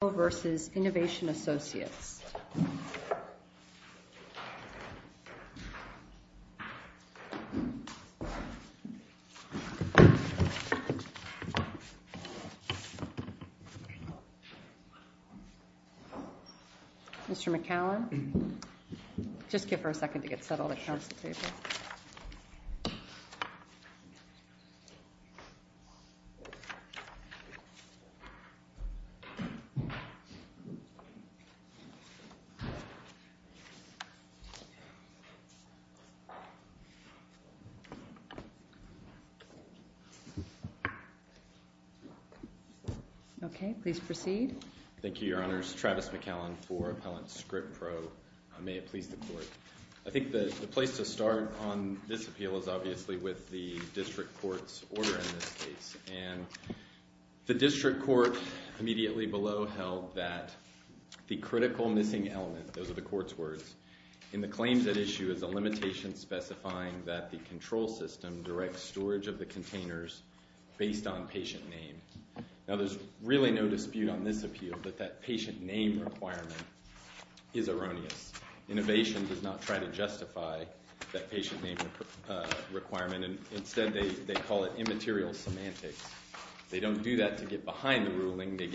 Mr. McCallum, just give her a second to get settled at Council table. Okay, please proceed. Thank you, Your Honors. Travis McCallum for Appellant Scripp-Pro. May it please the Court. I think the place to start on this appeal is obviously with the district court's order in this case. And the district court immediately below held that the critical missing element, those are the court's words, in the claims at issue is a limitation specifying that the control system directs storage of the containers based on patient name. Now, there's really no dispute on this appeal that that patient name requirement is erroneous. Innovation does not try to justify that patient name requirement. Instead, they call it immaterial semantics. They don't do that to get behind the ruling. They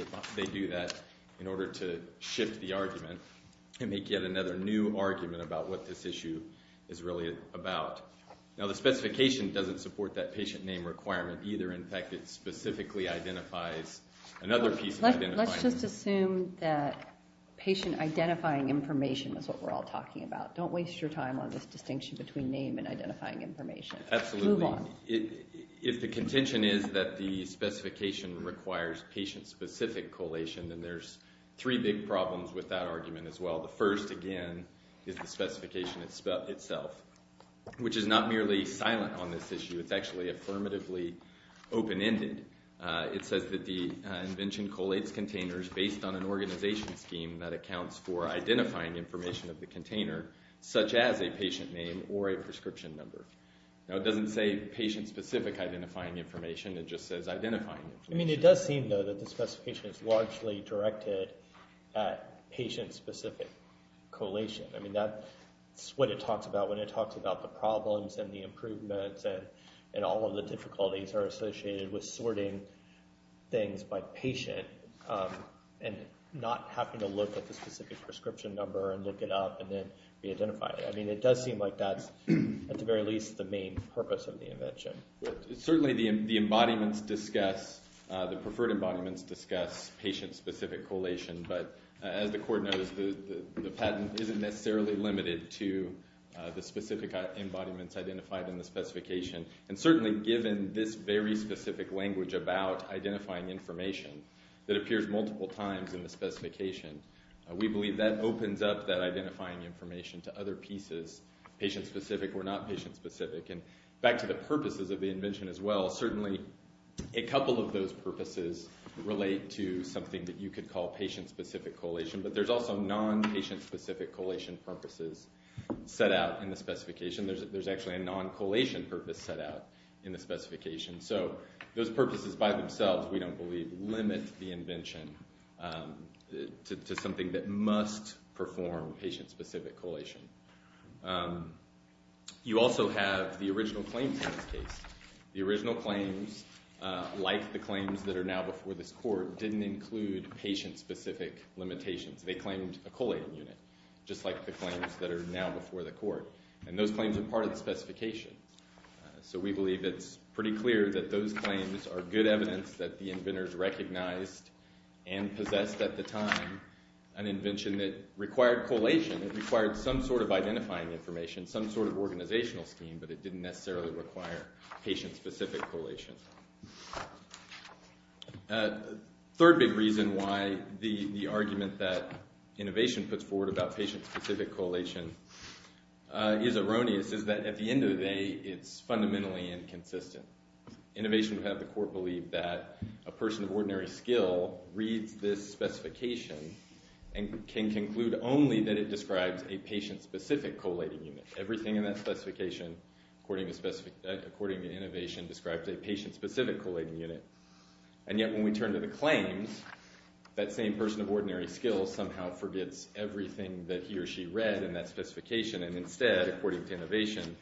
do that in order to shift the argument and make yet another new argument about what this issue is really about. Now, the specification doesn't support that patient name requirement either. In fact, it specifically identifies another piece of identifying. Let's just assume that patient identifying information is what we're all talking about. Don't waste your time on this distinction between name and identifying information. Absolutely. Move on. If the contention is that the specification requires patient-specific collation, then there's three big problems with that argument as well. The first, again, is the specification itself, which is not merely silent on this issue. It's actually affirmatively open-ended. It says that the invention collates containers based on an organization scheme that accounts for identifying information of the container, such as a patient name or a prescription number. Now, it doesn't say patient-specific identifying information. It just says identifying information. I mean, it does seem, though, that the specification is largely directed at patient-specific collation. I mean, that's what it talks about when it talks about the problems and the improvements and all of the difficulties that are associated with sorting things by patient and not having to look at the specific prescription number and look it up and then re-identify it. I mean, it does seem like that's, at the very least, the main purpose of the invention. Certainly, the preferred embodiments discuss patient-specific collation. But as the Court knows, the patent isn't necessarily limited to the specific embodiments identified in the specification. And certainly, given this very specific language about identifying information that appears multiple times in the specification, we believe that opens up that identifying information to other pieces, patient-specific or not patient-specific. And back to the purposes of the invention as well, certainly a couple of those purposes relate to something that you could call patient-specific collation. But there's also non-patient-specific collation purposes set out in the specification. There's actually a non-collation purpose set out in the specification. So those purposes by themselves, we don't believe, limit the invention to something that must perform patient-specific collation. You also have the original claims in this case. The original claims, like the claims that are now before this Court, didn't include patient-specific limitations. They claimed a collating unit, just like the claims that are now before the Court. And those claims are part of the specification. So we believe it's pretty clear that those claims are good evidence that the inventors recognized and possessed at the time an invention that required collation. It required some sort of identifying information, some sort of organizational scheme, but it didn't necessarily require patient-specific collation. The third big reason why the argument that innovation puts forward about patient-specific collation is erroneous is that at the end of the day, it's fundamentally inconsistent. Innovation would have the Court believe that a person of ordinary skill reads this specification and can conclude only that it describes a patient-specific collating unit. Everything in that specification, according to innovation, describes a patient-specific collating unit. And yet when we turn to the claims, that same person of ordinary skill somehow forgets everything that he or she read in that specification, and instead, according to innovation,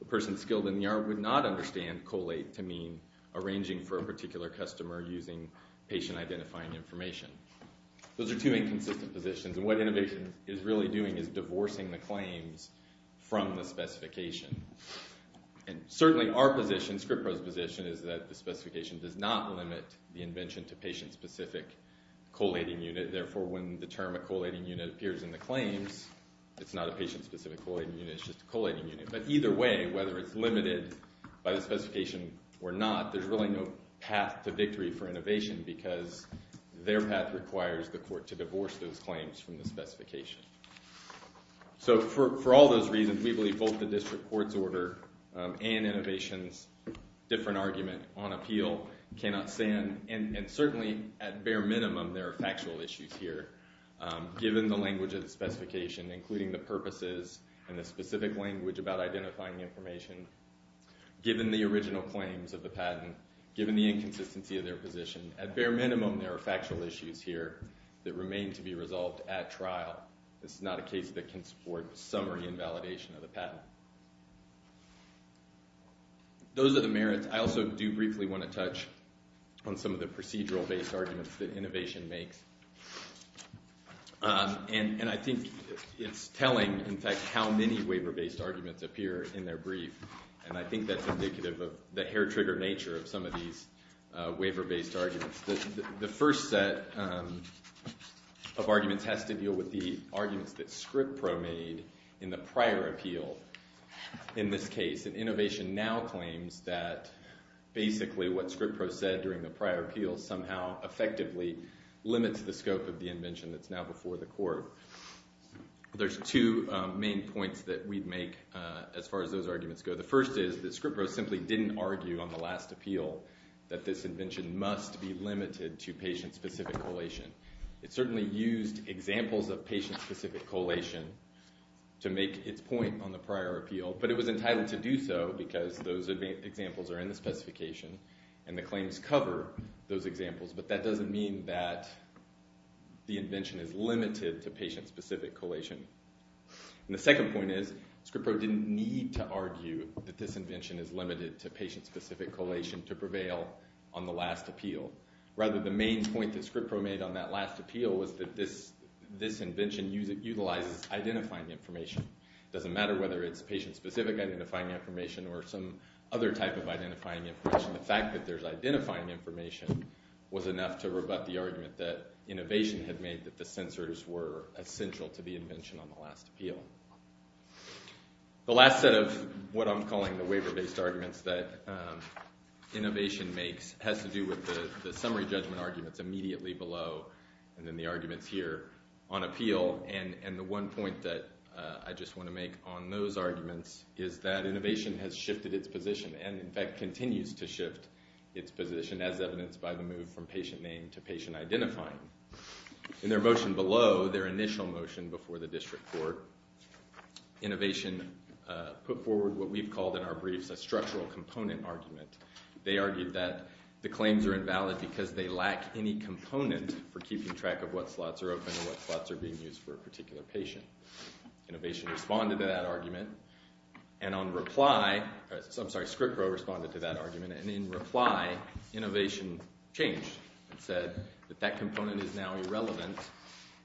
the person skilled in the art would not understand collate to mean arranging for a particular customer using patient-identifying information. Those are two inconsistent positions, and what innovation is really doing is divorcing the claims from the specification. And certainly our position, ScriptPro's position, is that the specification does not limit the invention to patient-specific collating unit. Therefore, when the term a collating unit appears in the claims, it's not a patient-specific collating unit, it's just a collating unit. But either way, whether it's limited by the specification or not, there's really no path to victory for innovation, because their path requires the Court to divorce those claims from the specification. So for all those reasons, we believe both the district court's order and innovation's different argument on appeal cannot stand, and certainly at bare minimum there are factual issues here, given the language of the specification, including the purposes and the specific language about identifying the information, given the original claims of the patent, given the inconsistency of their position. At bare minimum, there are factual issues here that remain to be resolved at trial. This is not a case that can support summary invalidation of the patent. Those are the merits. I also do briefly want to touch on some of the procedural-based arguments that innovation makes. And I think it's telling, in fact, how many waiver-based arguments appear in their brief, and I think that's indicative of the hair-trigger nature of some of these waiver-based arguments. The first set of arguments has to deal with the arguments that Scripp-Pro made in the prior appeal in this case. And innovation now claims that basically what Scripp-Pro said during the prior appeal somehow effectively limits the scope of the invention that's now before the Court. There's two main points that we'd make as far as those arguments go. The first is that Scripp-Pro simply didn't argue on the last appeal that this invention must be limited to patient-specific collation. It certainly used examples of patient-specific collation to make its point on the prior appeal, but it was entitled to do so because those examples are in the specification and the claims cover those examples, but that doesn't mean that the invention is limited to patient-specific collation. It doesn't mean that this invention is limited to patient-specific collation to prevail on the last appeal. Rather, the main point that Scripp-Pro made on that last appeal was that this invention utilizes identifying information. It doesn't matter whether it's patient-specific identifying information or some other type of identifying information. The fact that there's identifying information was enough to rebut the argument that innovation had made that the sensors were essential to the invention on the last appeal. The last set of what I'm calling the waiver-based arguments that innovation makes has to do with the summary judgment arguments immediately below and then the arguments here on appeal, and the one point that I just want to make on those arguments is that innovation has shifted its position and, in fact, continues to shift its position as evidenced by the move from patient name to patient identifying. In their motion below, their initial motion before the district court, innovation put forward what we've called in our briefs a structural component argument. They argued that the claims are invalid because they lack any component for keeping track of what slots are open and what slots are being used for a particular patient. Innovation responded to that argument, and on reply— I'm sorry, Scripp-Pro responded to that argument, and in reply, innovation changed and said that that component is now irrelevant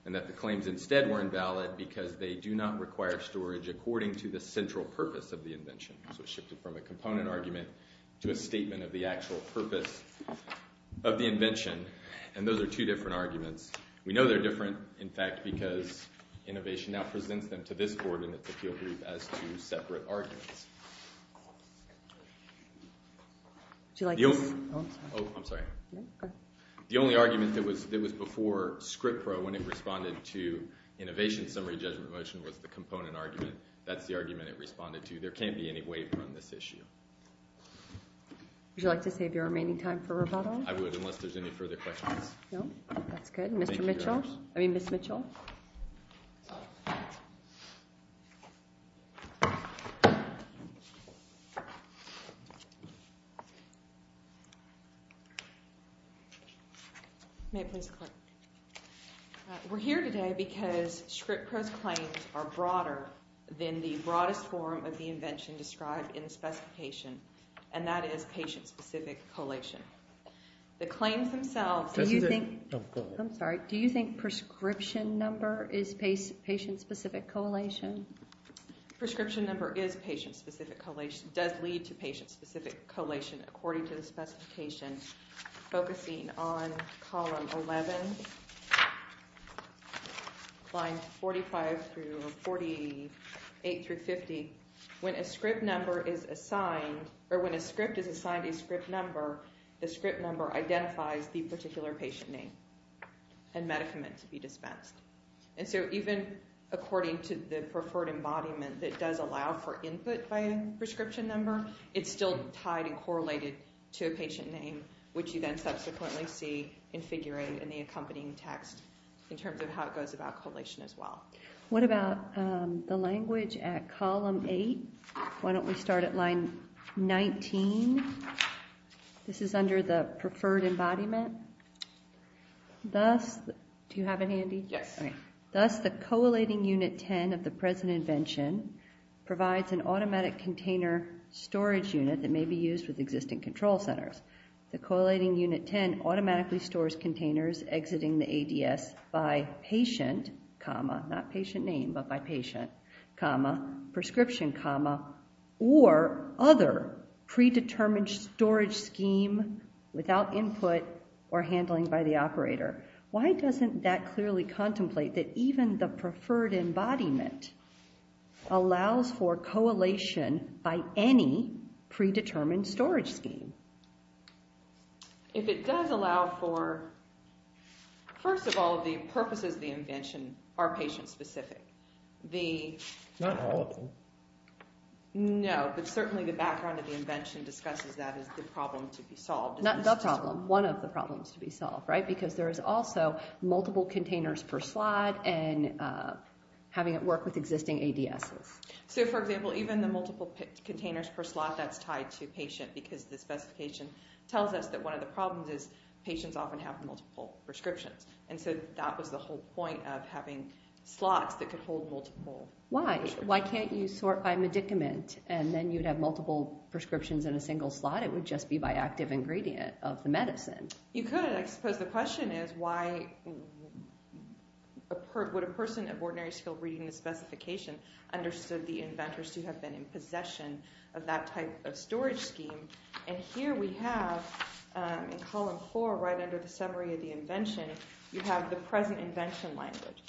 and that the claims instead were invalid because they do not require storage according to the central purpose of the invention. So it shifted from a component argument to a statement of the actual purpose of the invention, and those are two different arguments. We know they're different, in fact, because innovation now presents them to this board in its appeal brief as two separate arguments. Do you like this? Oh, I'm sorry. The only argument that was before Scripp-Pro when it responded to innovation summary judgment motion was the component argument. That's the argument it responded to. There can't be any waiver on this issue. Would you like to save your remaining time for rebuttal? I would, unless there's any further questions. No? That's good. Mr. Mitchell—I mean, Ms. Mitchell. May I please click? We're here today because Scripp-Pro's claims are broader than the broadest form of the invention described in the specification, and that is patient-specific collation. The claims themselves— Oh, go ahead. I'm sorry. Do you think prescription number is patient-specific collation? Prescription number is patient-specific collation. It does lead to patient-specific collation according to the specification, focusing on column 11, lines 45 through 48 through 50. When a Scripp number is assigned— or when a Scripp is assigned a Scripp number, the Scripp number identifies the particular patient name and medicament to be dispensed. And so even according to the preferred embodiment that does allow for input by a prescription number, it's still tied and correlated to a patient name, which you then subsequently see in figure 8 in the accompanying text in terms of how it goes about collation as well. What about the language at column 8? Why don't we start at line 19? This is under the preferred embodiment. Thus—do you have it handy? Yes. Thus, the coallating unit 10 of the present invention provides an automatic container storage unit that may be used with existing control centers. The coallating unit 10 automatically stores containers exiting the ADS by patient, not patient name, but by patient, prescription, or other predetermined storage scheme without input or handling by the operator. Why doesn't that clearly contemplate that even the preferred embodiment allows for coallation by any predetermined storage scheme? If it does allow for— first of all, the purposes of the invention are patient-specific. The— Not all of them. No, but certainly the background of the invention discusses that as the problem to be solved. Not the problem. One of the problems to be solved, right? Because there is also multiple containers per slot and having it work with existing ADSs. So, for example, even the multiple containers per slot, that's tied to patient because the specification tells us that one of the problems is patients often have multiple prescriptions. And so that was the whole point of having slots that could hold multiple— Why? Why can't you sort by medicament and then you'd have multiple prescriptions in a single slot? It would just be by active ingredient of the medicine. You could. I suppose the question is, why would a person of ordinary skill reading the specification understood the inventors to have been in possession of that type of storage scheme? And here we have, in column four, right under the summary of the invention, you have the present invention language.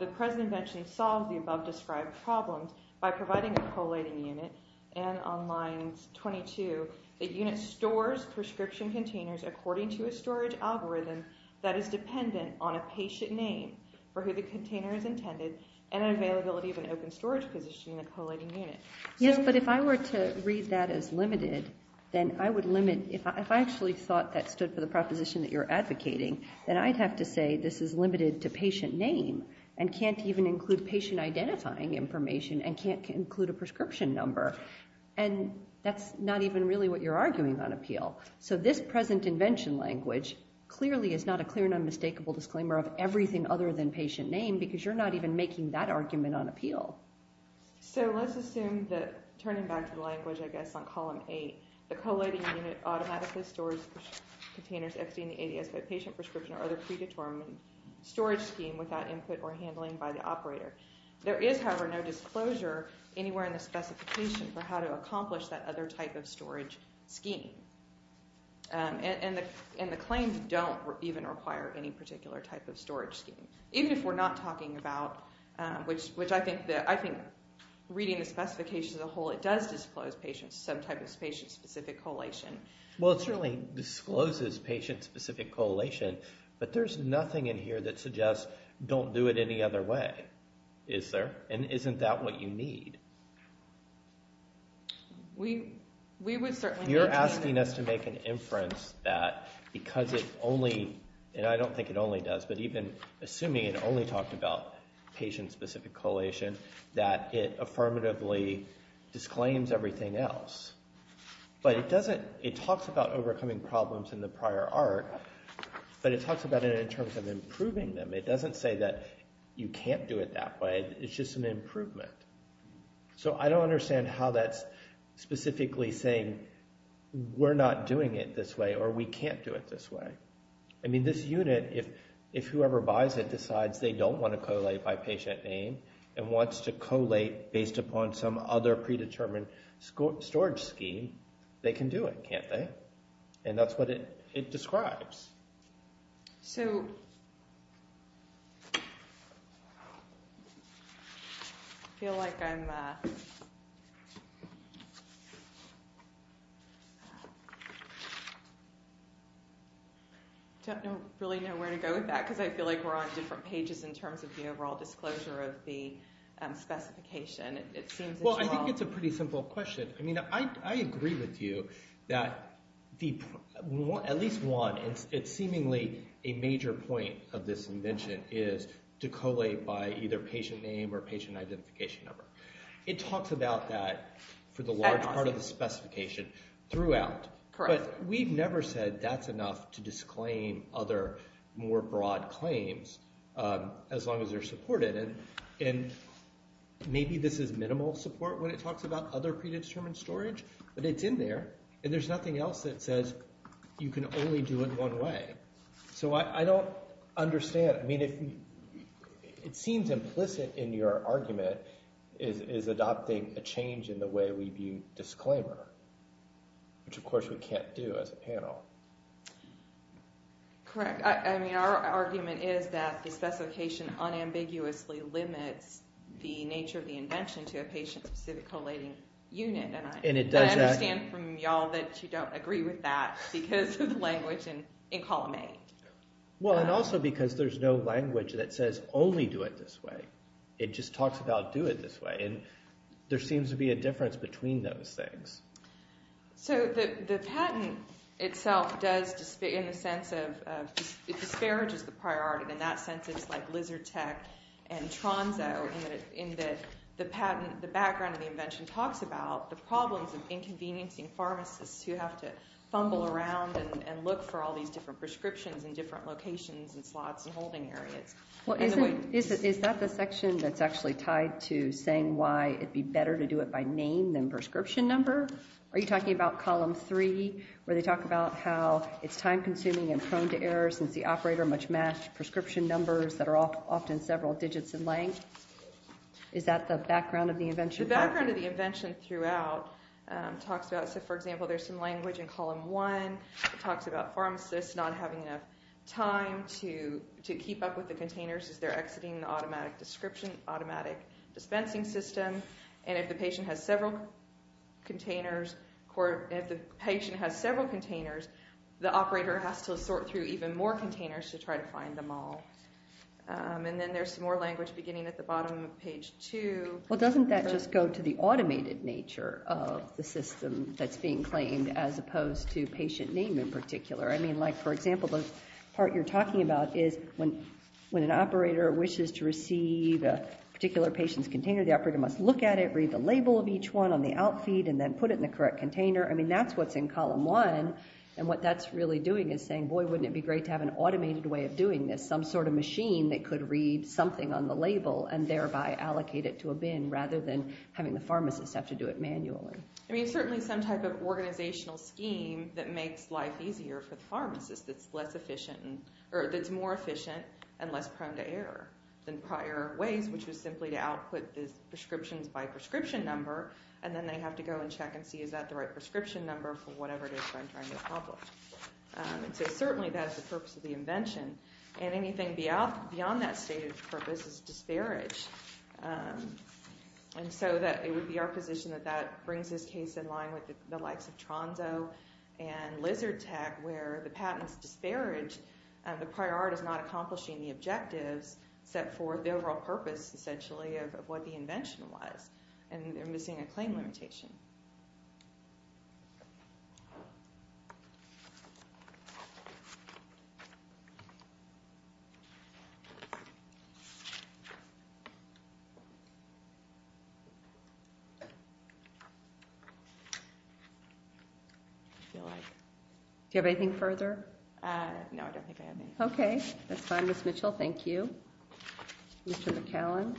The present invention solved the above described problems by providing a coallating unit. And on lines 22, the unit stores prescription containers according to a storage algorithm that is dependent on a patient name for who the container is intended and an availability of an open storage position in the coallating unit. Yes, but if I were to read that as limited, then I would limit— If I actually thought that stood for the proposition that you're advocating, then I'd have to say this is limited to patient name and can't even include patient identifying information and can't include a prescription number. And that's not even really what you're arguing on appeal. So this present invention language clearly is not a clear and unmistakable disclaimer of everything other than patient name because you're not even making that argument on appeal. So let's assume that, turning back to the language, I guess, on column eight, the coallating unit automatically stores containers exiting the ADS by patient prescription or other predetermined storage scheme without input or handling by the operator. There is, however, no disclosure anywhere in the specification for how to accomplish that other type of storage scheme. And the claims don't even require any particular type of storage scheme, even if we're not talking about— which I think, reading the specifications as a whole, it does disclose patient— some type of patient-specific coallation. Well, it certainly discloses patient-specific coallation, but there's nothing in here that suggests don't do it any other way. Is there? And isn't that what you need? We would certainly— you're asking us to make an inference that because it only— and I don't think it only does, but even assuming it only talked about patient-specific coallation, that it affirmatively disclaims everything else. But it doesn't— it talks about overcoming problems in the prior arc, but it talks about it in terms of improving them. It doesn't say that you can't do it that way. It's just an improvement. So I don't understand how that's specifically saying we're not doing it this way or we can't do it this way. I mean, this unit, if whoever buys it decides they don't want to collate by patient name and wants to collate based upon some other predetermined storage scheme, they can do it, can't they? And that's what it describes. So, I feel like I'm missing something. I don't really know where to go with that because I feel like we're on different pages in terms of the overall disclosure of the specification. Well, I think it's a pretty simple question. I mean, I agree with you that at least one, it's seemingly a major point of this invention is to collate by either patient name or patient identification number. It talks about that for the large part of the specification throughout. But we've never said that's enough to disclaim other more broad claims as long as they're supported. And maybe this is minimal support when it talks about other predetermined storage, but it's in there and there's nothing else that says you can only do it one way. So I don't understand. I mean, it seems implicit in your argument is adopting a DB disclaimer, which of course we can't do as a panel. Correct. I mean, our argument is that the specification unambiguously limits the nature of the invention to a patient-specific collating unit. I understand from y'all that you don't agree with that because of the language in column A. Well, and also because there's no language that says only do it this way. It just talks about do it this way. And there seems to be a difference between those things. So the patent itself does, in the sense of it disparages the priority in that sense. It's like Lizertech and Tronzo in that the background of the invention talks about the problems of inconveniencing pharmacists who have to fumble around and look for all these different prescriptions in different locations and slots and holding areas. Is that the section that's actually tied to saying why it'd be better to do it by name than prescription number? Are you talking about column 3 where they talk about how it's time-consuming and prone to errors since the operator much matched prescription numbers that are often several digits in length? Is that the background of the invention? The background of the invention throughout talks about, so for example, there's some language in column 1. It talks about pharmacists not having enough time to keep up with the containers as they're exiting the automatic dispensing system and if the patient has several containers the operator has to sort through even more containers to try to find them all. And then there's some more language beginning at the bottom of page 2. Well, doesn't that just go to the automated nature of the system that's being claimed as opposed to patient name in particular? I mean, like for example, the part you're talking about is when an operator wishes to receive a particular patient's container, the operator must look at it read the label of each one on the outfeed and then put it in the correct container. I mean, that's what's in column 1 and what that's really doing is saying, boy, wouldn't it be great to have an automated way of doing this? Some sort of machine that could read something on the label and thereby allocate it to a bin rather than having the pharmacist have to do it manually. I mean, certainly some type of organizational scheme that makes life easier for the pharmacist that's less efficient, or that's more efficient and less prone to error than prior ways, which was simply to output the prescriptions by prescription number and then they have to go and check and see is that the right prescription number for whatever it is that I'm trying to accomplish. And so certainly that's the purpose of the invention. And anything beyond that stated purpose is disparaged. And so it would be our position that that brings this case in line with the likes of Tronzo and Lizard Tech where the patents disparage and the prior does not accomplish any objectives except for the overall purpose essentially of what the invention was and they're missing a claim limitation. Do you have anything further? No, I don't think I have anything. Okay, that's fine. Ms. Mitchell, thank you. Mr. McAllen.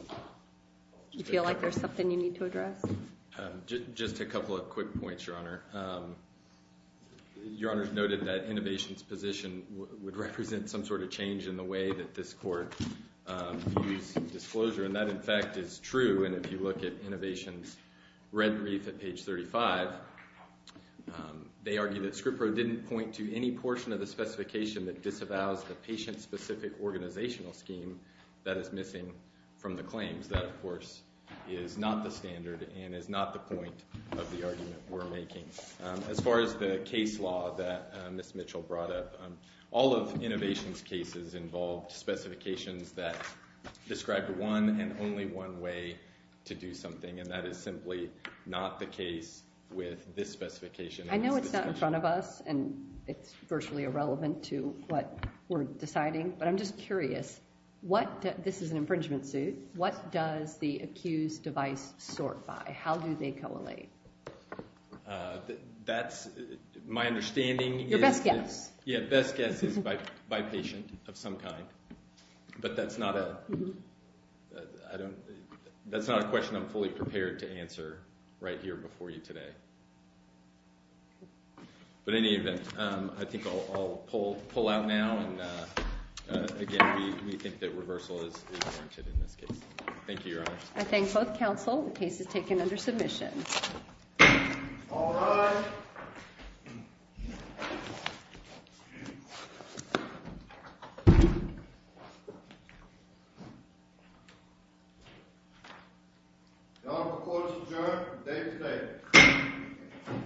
Do you feel like there's something you need to address? Just a couple of quick points, Your Honor. Your Honor's noted that innovation's position would represent some sort of change in the way that this court views disclosure and that in fact is true and if you look at innovation's red brief at page 35, they argue that Skripro didn't point to any portion of the specification that disavows the patient-specific organizational scheme that is missing from the claims. That of course is not the standard and is not the point of the argument we're making. As far as the case law that Ms. Mitchell brought up, all of innovation's cases involved specifications that described one and only one way to do something and that is simply not the case with this specification. I know it's not in front of us and it's virtually irrelevant to what we're deciding, but I'm just curious what, this is an infringement suit, what does the accused device sort by? How do they coallate? That's, my understanding Your best guess. Yeah, best guess is by patient of some kind. But that's not a I don't that's not a question I'm fully prepared to answer right here before you today. But in any event, I think I'll pull out now and again, we think that reversal is warranted in this case. Thank you, Your Honor. I thank both counsel. The case is taken under submission. All rise....... Your Honor, the court is adjourned. The case is taken.